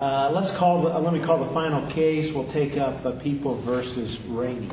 Let me call the final case. We'll take up People v. Rainey.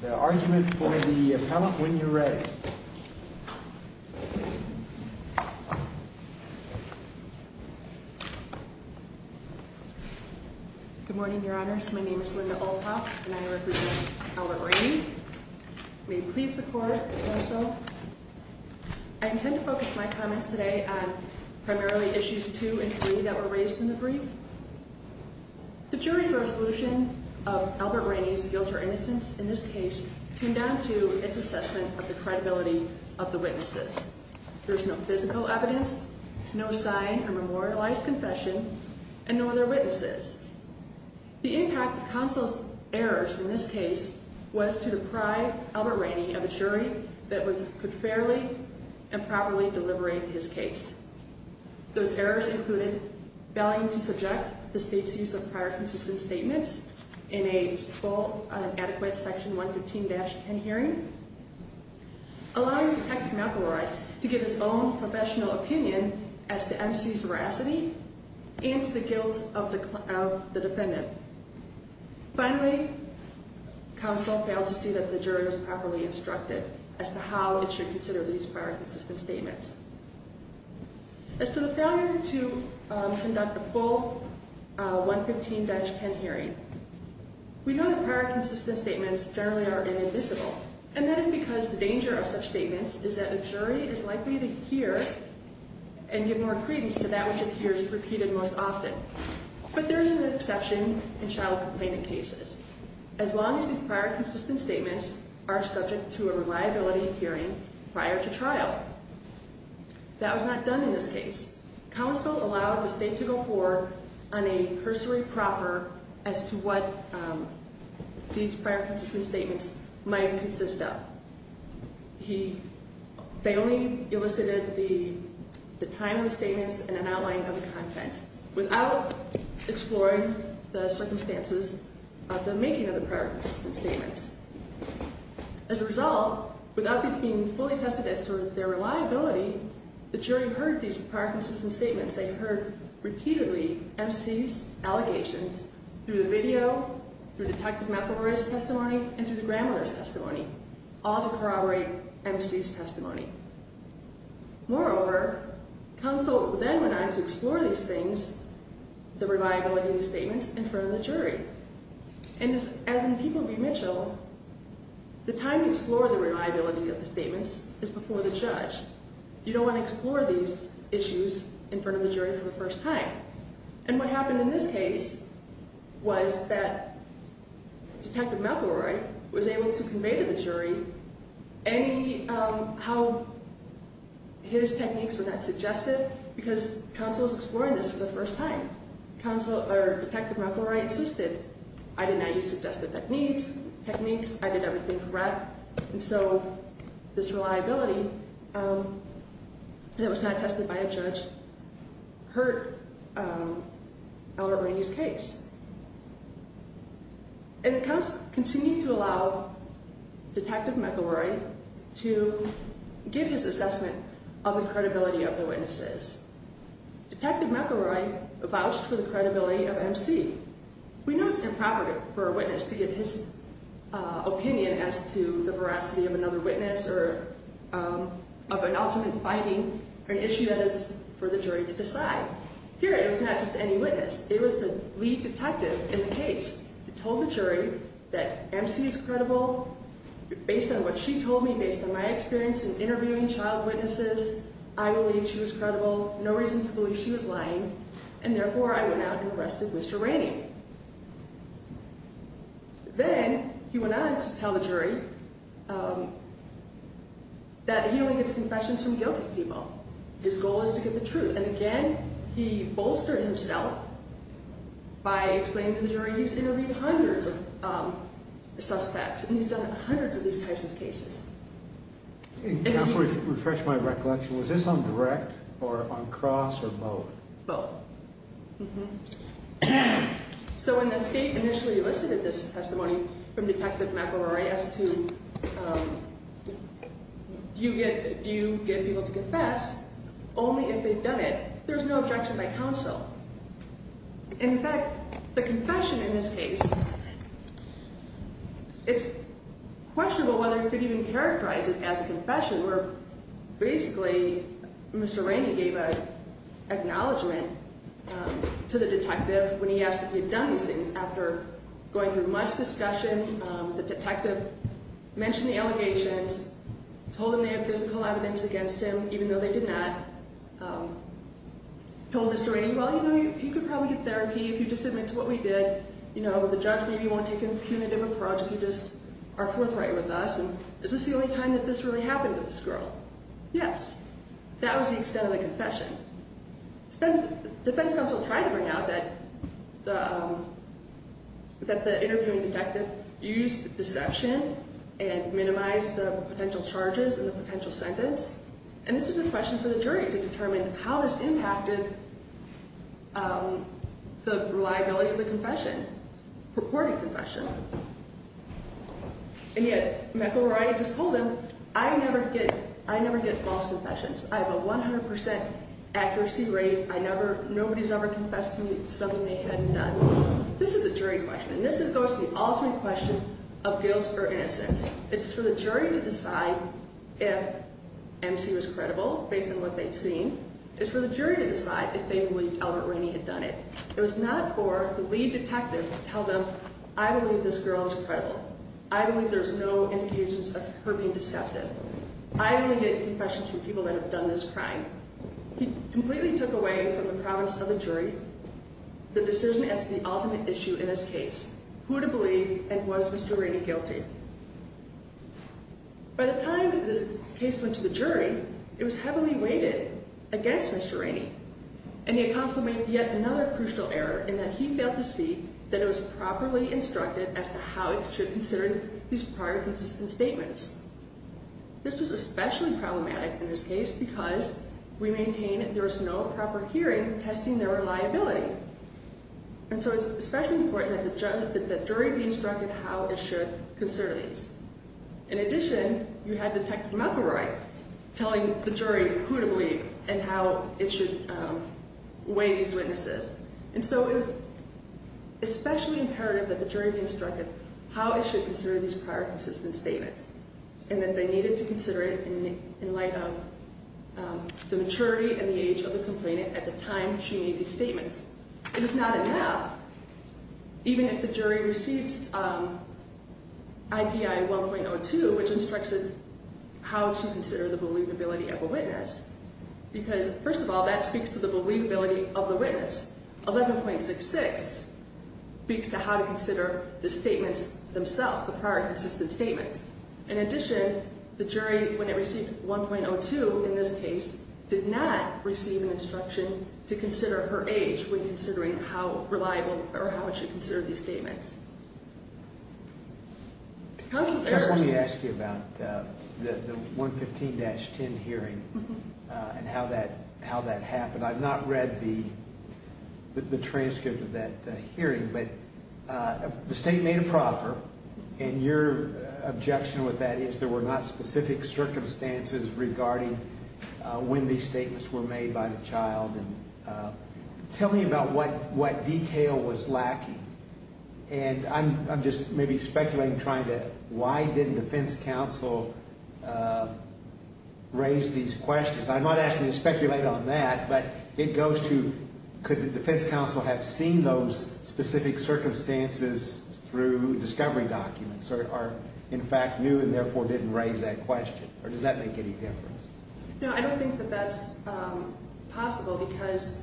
The argument for the appellant, when you're ready. Good morning, Your Honors. My name is Linda Olthoff, and I represent Appellant Rainey. May it please the Court, counsel. I intend to focus my comments today on primarily issues 2 and 3 that were raised in the brief. The jury's resolution of Albert Rainey's guilt or innocence in this case came down to its assessment of the credibility of the witnesses. There's no physical evidence, no sign of memorialized confession, and nor are there witnesses. The impact of counsel's errors in this case was to deprive Albert Rainey of a jury that could fairly and properly deliberate his case. Those errors included failing to subject the state's use of prior consistent statements in an adequate Section 115-10 hearing, allowing Detective McElroy to give his own professional opinion as to MC's veracity and to the guilt of the defendant. Finally, counsel failed to see that the jury was properly instructed as to how it should consider these prior consistent statements. As to the failure to conduct a full 115-10 hearing, we know that prior consistent statements generally are inadmissible, and that is because the danger of such statements is that the jury is likely to hear and give more credence to that which it hears repeated most often. But there is an exception in child complainant cases, as long as these prior consistent statements are subject to a reliability hearing prior to trial. That was not done in this case. Counsel allowed the state to go forward on a cursory proper as to what these prior consistent statements might consist of. He fatally elicited the time of the statements and an outline of the contents without exploring the circumstances of the making of the prior consistent statements. As a result, without being fully tested as to their reliability, the jury heard these prior consistent statements. They heard, repeatedly, MC's allegations through the video, through Detective McElroy's testimony, and through the grandmother's testimony, all to corroborate MC's testimony. Moreover, counsel then went on to explore these things, the reliability of the statements, in front of the jury. And as in People v. Mitchell, the time to explore the reliability of the statements is before the judge. You don't want to explore these issues in front of the jury for the first time. And what happened in this case was that Detective McElroy was able to convey to the jury how his techniques were not suggested, because counsel is exploring this for the first time. Detective McElroy insisted, I did not use suggested techniques, I did everything correct. And so, this reliability that was not tested by a judge hurt Elder Ernie's case. And counsel continued to allow Detective McElroy to give his assessment of the credibility of the witnesses. Detective McElroy vouched for the credibility of MC. We know it's improper for a witness to give his opinion as to the veracity of another witness, or of an ultimate finding, or an issue that is for the jury to decide. Here, it was not just any witness. It was the lead detective in the case that told the jury that MC is credible. Based on what she told me, based on my experience in interviewing child witnesses, I believe she was credible. No reason to believe she was lying. And therefore, I went out and arrested Mr. Ernie. Then, he went on to tell the jury that he only gets confessions from guilty people. His goal is to get the truth. And again, he bolstered himself by explaining to the jury he's interviewed hundreds of suspects, and he's done hundreds of these types of cases. Counsel, refresh my recollection. Was this on direct, or on cross, or both? Both. So, when the state initially elicited this testimony from Detective McElroy as to do you get people to confess, only if they've done it, there's no objection by counsel. In fact, the confession in this case, it's questionable whether you could even characterize it as a confession, where basically, Mr. Ernie gave an acknowledgement to the detective when he asked if he had done these things. After going through much discussion, the detective mentioned the allegations, told him they have physical evidence against him, even though they did not. Told Mr. Ernie, well, you know, you could probably get therapy if you just admit to what we did. You know, the judge maybe won't take a punitive approach if you just are forthright with us. And is this the only time that this really happened with this girl? Yes. That was the extent of the confession. Defense counsel tried to bring out that the interviewing detective used deception and minimized the potential charges and the potential sentence. And this was a question for the jury to determine how this impacted the reliability of the confession, purported confession. And yet, McElroy just told him, I never get false confessions. I have a 100% accuracy rate. I never, nobody's ever confessed to me something they hadn't done. This is a jury question. And this goes to the ultimate question of guilt or innocence. It's for the jury to decide if MC was credible based on what they'd seen. It's for the jury to decide if they believe Albert Ernie had done it. It was not for the lead detective to tell them, I believe this girl is credible. I believe there's no evidence of her being deceptive. I only get confessions from people that have done this crime. He completely took away from the province of the jury the decision as to the ultimate issue in this case, who to believe and was Mr. Ernie guilty. By the time the case went to the jury, it was heavily weighted against Mr. Ernie. And the counsel made yet another crucial error in that he failed to see that it was properly instructed as to how it should consider these prior consistent statements. This was especially problematic in this case because we maintain that there was no proper hearing testing their reliability. And so it's especially important that the jury be instructed how it should consider these. In addition, you had Detective McElroy telling the jury who to believe and how it should weigh these witnesses. And so it was especially imperative that the jury be instructed how it should consider these prior consistent statements. And that they needed to consider it in light of the maturity and the age of the complainant at the time she made these statements. It is not enough, even if the jury receives IPI 1.02, which instructs it how to consider the believability of a witness. Because, first of all, that speaks to the believability of the witness. 11.66 speaks to how to consider the statements themselves, the prior consistent statements. In addition, the jury, when it received 1.02 in this case, did not receive an instruction to consider her age when considering how reliable or how it should consider these statements. Let me ask you about the 115-10 hearing and how that happened. I've not read the transcript of that hearing, but the state made a proffer. And your objection with that is there were not specific circumstances regarding when these statements were made by the child. Tell me about what detail was lacking. And I'm just maybe speculating, trying to, why didn't defense counsel raise these questions? I'm not asking you to speculate on that, but it goes to, could the defense counsel have seen those specific circumstances through discovery documents? Or are, in fact, new and therefore didn't raise that question? Or does that make any difference? No, I don't think that that's possible, because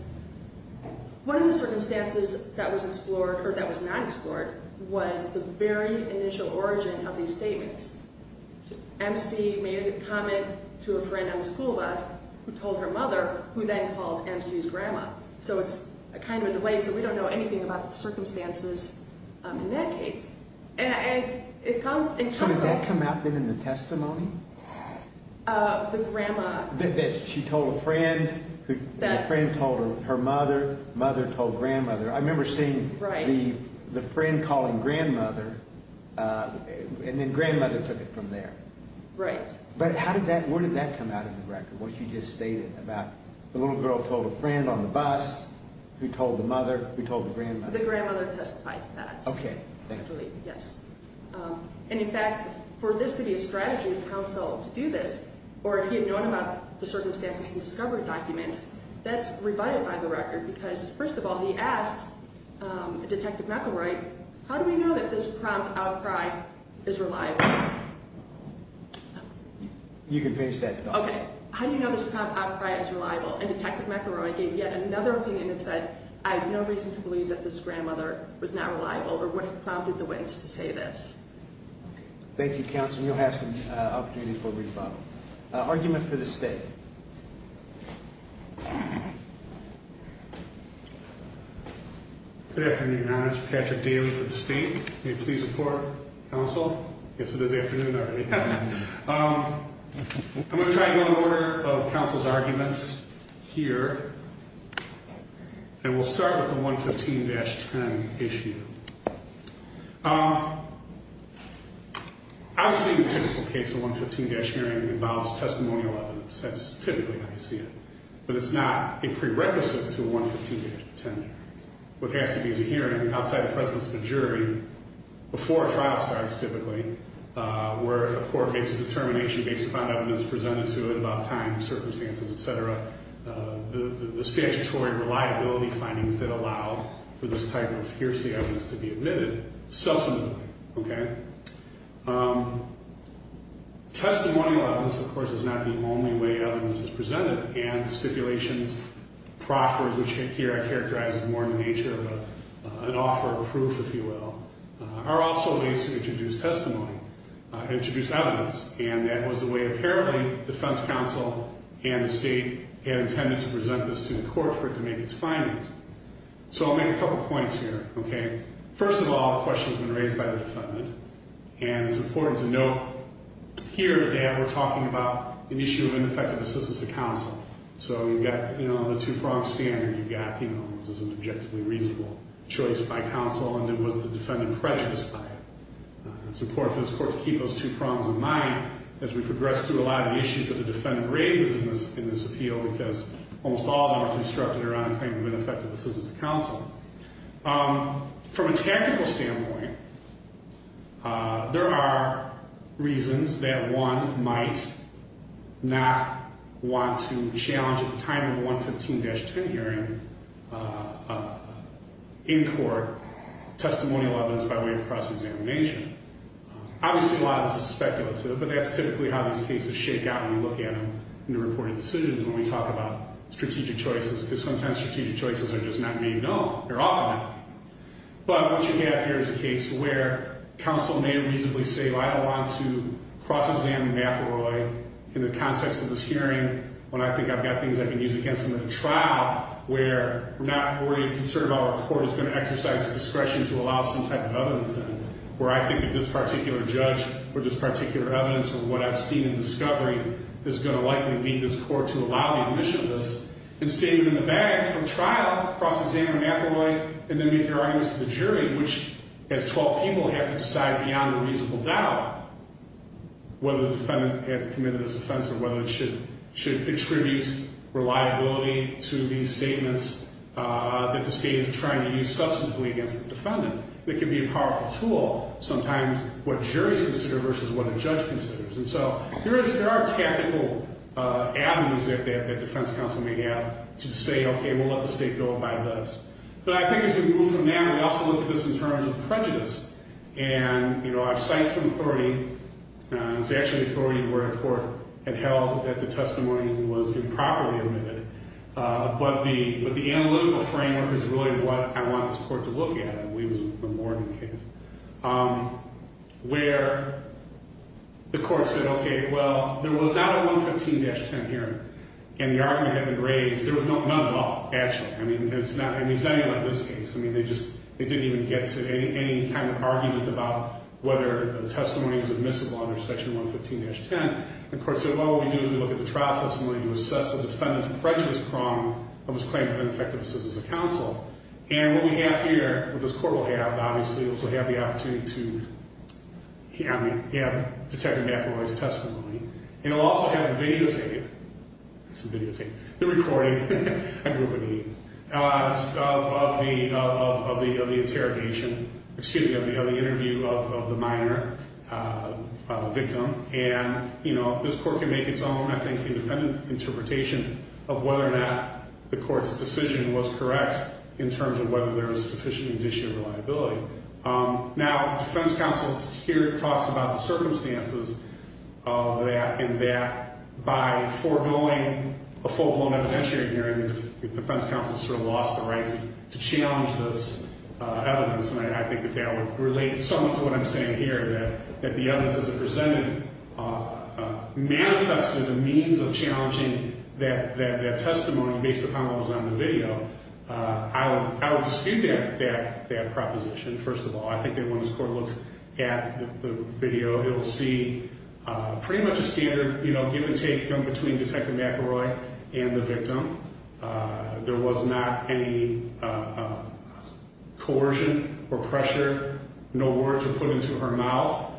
one of the circumstances that was explored, or that was not explored, was the very initial origin of these statements. MC made a comment to a friend at the school bus who told her mother, who then called MC's grandma. So it's kind of in the way, so we don't know anything about the circumstances in that case. And it comes in context. So does that come out within the testimony? The grandma. She told a friend. A friend told her mother. Mother told grandmother. I remember seeing the friend calling grandmother, and then grandmother took it from there. Right. But how did that, where did that come out in the record, what she just stated about the little girl told a friend on the bus who told the mother who told the grandmother? The grandmother testified to that. Okay. Yes. And, in fact, for this to be a strategy for counsel to do this, or if he had known about the circumstances and discovered documents, that's rebutted by the record, because, first of all, he asked Detective McElroy, how do we know that this prompt outcry is reliable? You can finish that. Okay. How do you know this prompt outcry is reliable? And Detective McElroy gave yet another opinion and said, I have no reason to believe that this grandmother was not reliable or would have prompted the witness to say this. Thank you, Counsel. And you'll have some opportunities for rebuttal. Argument for the State. Good afternoon, Your Honor. This is Patrick Daly for the State. May it please the Court, Counsel? I guess it is afternoon already. I'm going to try to go in order of counsel's arguments here, and we'll start with the 115-10 issue. Obviously, the typical case of a 115-10 hearing involves testimonial evidence. That's typically how you see it. But it's not a prerequisite to a 115-10 hearing. What has to be is a hearing outside the presence of a jury before a trial starts, typically, where a court makes a determination based upon evidence presented to it about time, circumstances, et cetera. The statutory reliability findings that allow for this type of hearsay evidence to be admitted subsequently, okay? Testimonial evidence, of course, is not the only way evidence is presented. And stipulations, proffers, which here I characterize more in the nature of an offer of proof, if you will, are also ways to introduce testimony, introduce evidence. And that was the way, apparently, the Defense Counsel and the State had intended to present this to the Court for it to make its findings. So I'll make a couple points here, okay? First of all, the question has been raised by the defendant, and it's important to note here that we're talking about an issue of ineffective assistance to counsel. So you've got, you know, the two-pronged standard. You've got, you know, this is an objectively reasonable choice by counsel, and it wasn't the defendant prejudiced by it. It's important for this Court to keep those two prongs in mind as we progress through a lot of the issues that the defendant raises in this appeal, because almost all of them are constructed around a claim of ineffective assistance to counsel. From a tactical standpoint, there are reasons that one might not want to challenge at the time of a 115-10 hearing in court testimonial evidence by way of cross-examination. Obviously, a lot of this is speculative, but that's typically how these cases shake out when you look at them in the reported decisions when we talk about strategic choices, because sometimes strategic choices are just not being known. They're off of it. But what you have here is a case where counsel may reasonably say, well, I don't want to cross-examine McElroy in the context of this hearing when I think I've got things I can use against him in a trial, where we're not worried or concerned about what the Court is going to exercise its discretion to allow some type of evidence in, where I think that this particular judge or this particular evidence or what I've seen in discovery is going to likely lead this Court to allow the admission of this and state it in the bag from trial, cross-examine McElroy, and then make your arguments to the jury, which, as 12 people, have to decide beyond a reasonable doubt whether the defendant had committed this offense or whether it should attribute reliability to these statements that the state is trying to use substantively against the defendant. It can be a powerful tool, sometimes what juries consider versus what a judge considers. And so there are tactical avenues that defense counsel may have to say, okay, we'll let the state go by this. But I think as we move from there, we also look at this in terms of prejudice. And, you know, I've cited some authority. It's actually authority where a court had held that the testimony was improperly admitted. But the analytical framework is really what I want this Court to look at. I believe it was the Morgan case, where the Court said, okay, well, there was not a 115-10 hearing, and the argument had been raised. There was none at all, actually. I mean, it's not even like this case. I mean, they just didn't even get to any kind of argument about whether the testimony was admissible under Section 115-10. The Court said, well, what we do is we look at the trial testimony to assess the defendant's prejudice prong of his claim of ineffective assistance of counsel. And what we have here, what this Court will have, obviously, is we'll have the opportunity to have detective McElroy's testimony. And we'll also have a videotape. It's a videotape. The recording of the interrogation, excuse me, of the interview of the minor, the victim. And, you know, this Court can make its own, I think, independent interpretation of whether or not the Court's decision was correct in terms of whether there was sufficient condition of reliability. Now, defense counsel here talks about the circumstances of that, and that by foregoing a full-blown evidentiary hearing, the defense counsel sort of lost the right to challenge this evidence. And I think that that would relate somewhat to what I'm saying here, that the evidence as it presented manifested a means of challenging that testimony based upon what was on the video. I would dispute that proposition, first of all. I think that when this Court looks at the video, it will see pretty much a standard, you know, give and take between Detective McElroy and the victim. There was not any coercion or pressure, no words were put into her mouth.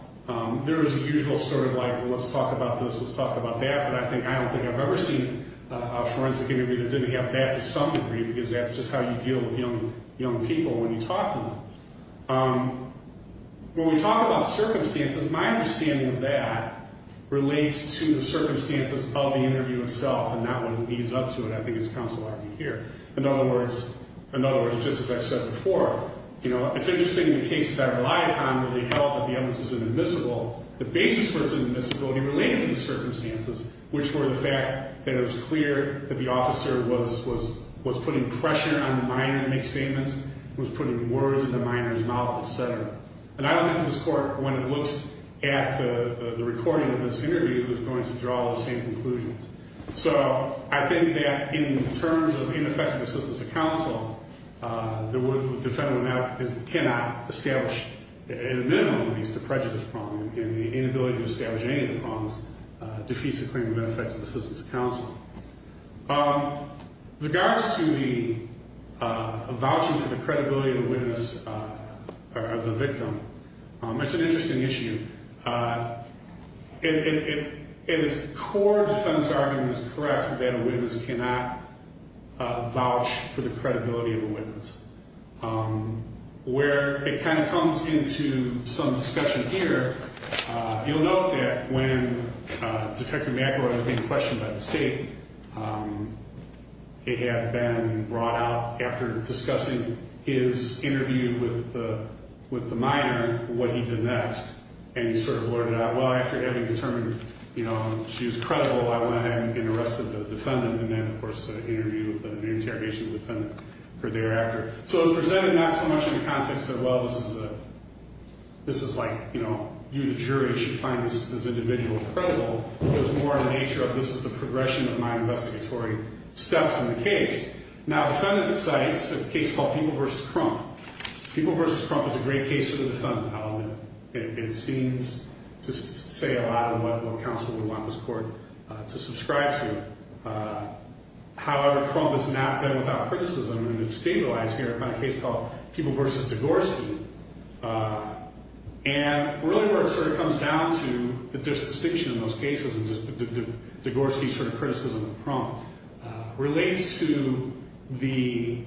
There was a usual sort of like, well, let's talk about this, let's talk about that. But I don't think I've ever seen a forensic interview that didn't have that to some degree, because that's just how you deal with young people when you talk to them. When we talk about circumstances, my understanding of that relates to the circumstances of the interview itself and not what leads up to it, I think, as counsel argued here. In other words, just as I said before, you know, it's interesting the cases that I relied on really held that the evidence is inadmissible. The basis for inadmissibility related to the circumstances, which were the fact that it was clear that the officer was putting pressure on the minor to make statements, was putting words in the minor's mouth, etc. And I don't think this Court, when it looks at the recording of this interview, is going to draw the same conclusions. So I think that in terms of ineffective assistance of counsel, the defendant cannot establish, at a minimum at least, a prejudice problem. And the inability to establish any of the problems defeats the claim of ineffective assistance of counsel. With regards to the vouching for the credibility of the witness or the victim, it's an interesting issue. At its core, the defendant's argument is correct that a witness cannot vouch for the credibility of a witness. Where it kind of comes into some discussion here, you'll note that when Detective McElroy was being questioned by the State, it had been brought out after discussing his interview with the minor, what he did next. And he sort of blurted out, well, after having determined, you know, she was credible, I went ahead and arrested the defendant. And then, of course, an interview with an interrogation of the defendant occurred thereafter. So it was presented not so much in the context that, well, this is like, you know, you, the jury, should find this individual credible. It was more in the nature of this is the progression of my investigatory steps in the case. Now, the defendant cites a case called People v. Crump. People v. Crump is a great case for the defendant. It seems to say a lot of what counsel would want this court to subscribe to. However, Crump has not been without criticism and has stabilized here by a case called People v. Degorski. And really where it sort of comes down to, that there's a distinction in those cases, and Degorski's sort of criticism of Crump relates to the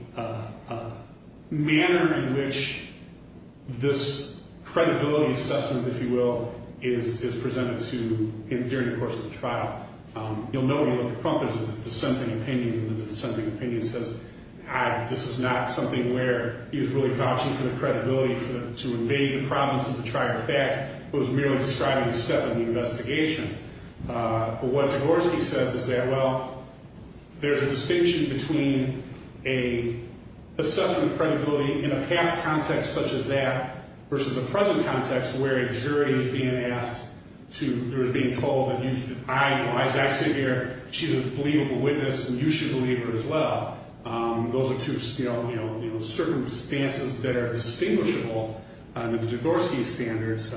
manner in which this credibility assessment, if you will, is presented to him during the course of the trial. You'll note when you look at Crump, there's this dissenting opinion. The dissenting opinion says, this is not something where he was really vouching for the credibility to invade the province of the trial. In fact, it was merely describing a step in the investigation. But what Degorski says is that, well, there's a distinction between an assessment of credibility in a past context such as that versus a present context where a jury is being asked to, or is being told that I know, I was actually here, she's a believable witness, and you should believe her as well. Those are two circumstances that are distinguishable under the Degorski standards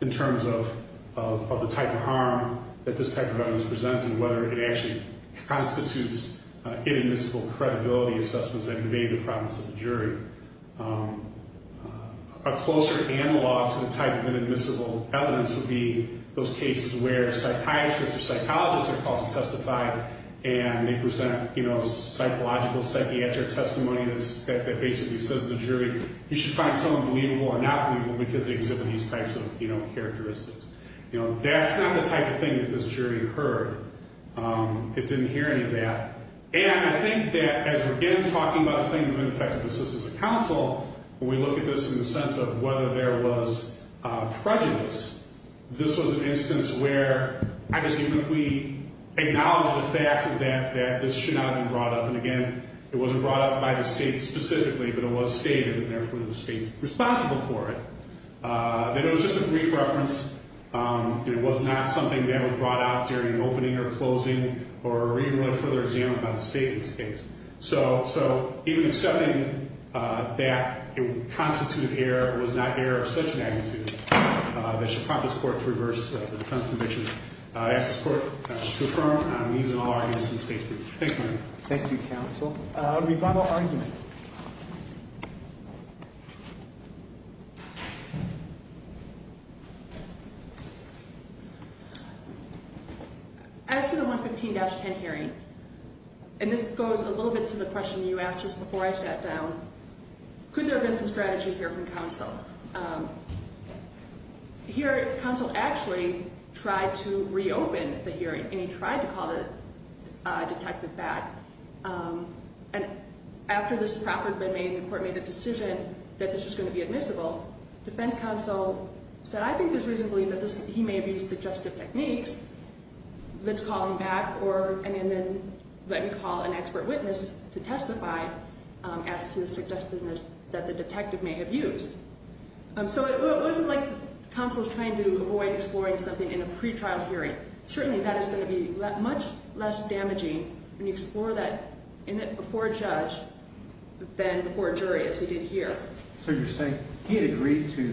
in terms of the type of harm that this type of evidence presents and whether it actually constitutes inadmissible credibility assessments that invade the province of the jury. A closer analog to the type of inadmissible evidence would be those cases where psychiatrists or psychologists are called to testify, and they present psychological, psychiatric testimony that basically says to the jury, you should find someone believable or not believable because they exhibit these types of characteristics. That's not the type of thing that this jury heard. It didn't hear any of that. And I think that as we're, again, talking about the thing that would affect the assistance of counsel, when we look at this in the sense of whether there was prejudice, this was an instance where, I guess, even if we acknowledge the fact that this should not have been brought up, and, again, it wasn't brought up by the state specifically, but it was stated, and therefore the state's responsible for it, that it was just a brief reference. It was not something that was brought out during opening or closing or even a further example by the state in this case. So even accepting that it would constitute error was not error of such magnitude that should prompt this court to reverse the defense conviction. I ask this court to affirm on these and all arguments in the state's brief. Thank you, Your Honor. Thank you, counsel. Rebuttal argument. As to the 115-10 hearing, and this goes a little bit to the question you asked just before I sat down, could there have been some strategy here from counsel? Here, counsel actually tried to reopen the hearing, and he tried to call the detective back. And after this proffer had been made and the court made the decision that this was going to be admissible, defense counsel said, I think there's reason to believe that he may have used suggestive techniques. Let's call him back, and then let me call an expert witness to testify as to the suggestiveness that the detective may have used. So it wasn't like counsel was trying to avoid exploring something in a pretrial hearing. Certainly that is going to be much less damaging when you explore that before a judge than before a jury, as he did here. So you're saying he had agreed to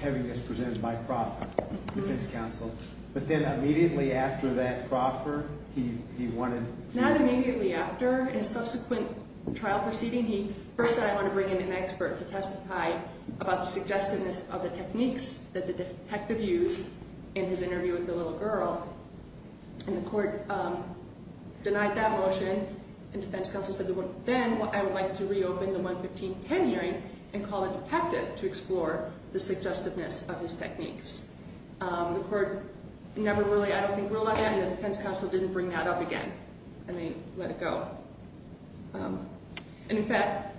having this presented by proffer, defense counsel, but then immediately after that proffer, he wanted? Not immediately after. In a subsequent trial proceeding, he first said, I want to bring in an expert to testify about the suggestiveness of the techniques that the detective used in his interview with the little girl, and the court denied that motion, and defense counsel said, then I would like to reopen the 11510 hearing and call the detective to explore the suggestiveness of his techniques. The court never really, I don't think, ruled on that, and the defense counsel didn't bring that up again, and they let it go. And in fact,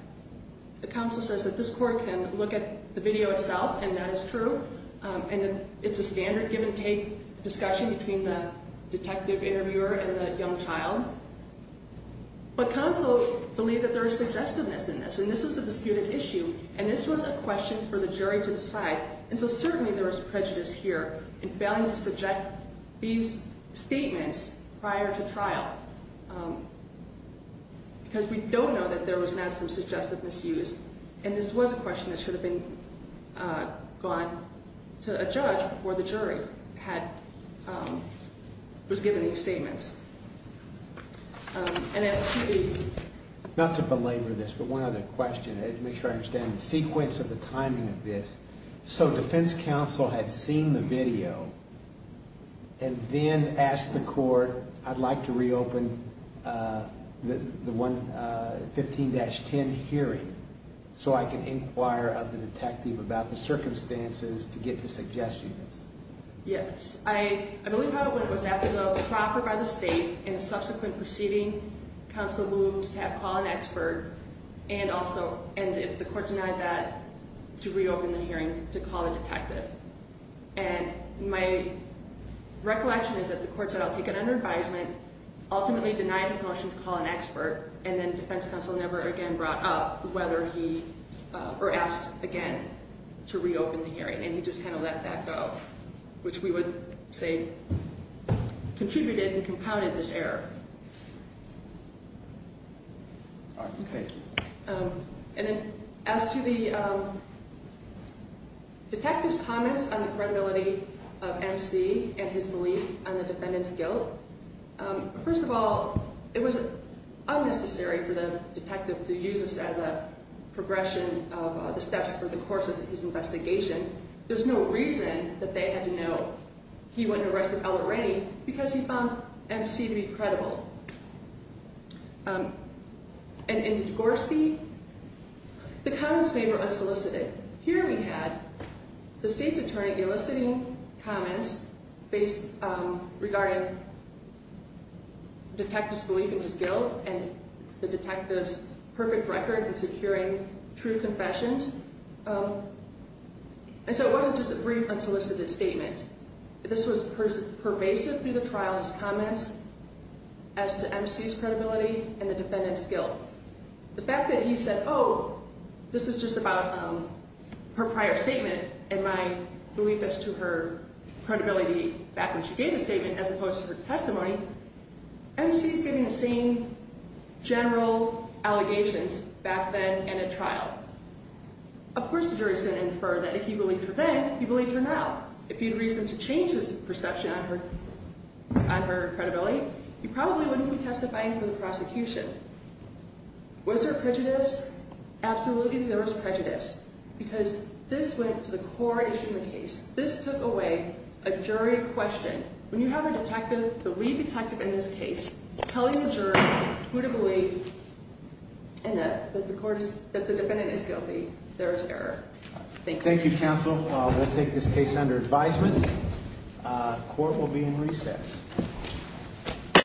the counsel says that this court can look at the video itself, and that is true, and it's a standard give-and-take discussion between the detective interviewer and the young child, but counsel believed that there was suggestiveness in this, and this was a disputed issue, and this was a question for the jury to decide, and so certainly there was prejudice here in failing to subject these statements prior to trial, because we don't know that there was not some suggestiveness used, and this was a question that should have been gone to a judge before the jury was given these statements. And as to the... Not to belabor this, but one other question. I need to make sure I understand the sequence of the timing of this. So defense counsel had seen the video and then asked the court, I'd like to reopen the 15-10 hearing so I can inquire of the detective about the circumstances to get to suggestiveness. Yes. I believe how it went was after the proffer by the state and the subsequent proceeding, counsel moved to call an expert, and the court denied that to reopen the hearing to call a detective. And my recollection is that the court said I'll take it under advisement, ultimately denied his motion to call an expert, and then defense counsel never again brought up whether he... or asked again to reopen the hearing, and he just kind of let that go, which we would say contributed and compounded this error. Okay. And then as to the detective's comments on the credibility of MC and his belief on the defendant's guilt, first of all, it was unnecessary for the detective to use this as a progression of the steps for the course of his investigation. There's no reason that they had to know he wasn't arrested already because he found MC to be credible. And in the Dvorsky, the comments made were unsolicited. Here we had the state's attorney eliciting comments regarding the detective's belief in his guilt and the detective's perfect record in securing true confessions. And so it wasn't just a brief unsolicited statement. This was pervasive through the trial's comments as to MC's credibility and the defendant's guilt. The fact that he said, oh, this is just about her prior statement and my belief as to her credibility back when she gave the statement as opposed to her testimony, MC's giving the same general allegations back then in a trial. Of course the jury's going to infer that if you believed her then, you believe her now. If you had reason to change his perception on her credibility, you probably wouldn't be testifying for the prosecution. Was there prejudice? Absolutely there was prejudice because this went to the core issue of the case. This took away a jury question. When you have a detective, the lead detective in this case, telling the jury who to believe and that the defendant is guilty, there is error. Thank you. Thank you, counsel. We'll take this case under advisement. Court will be in recess.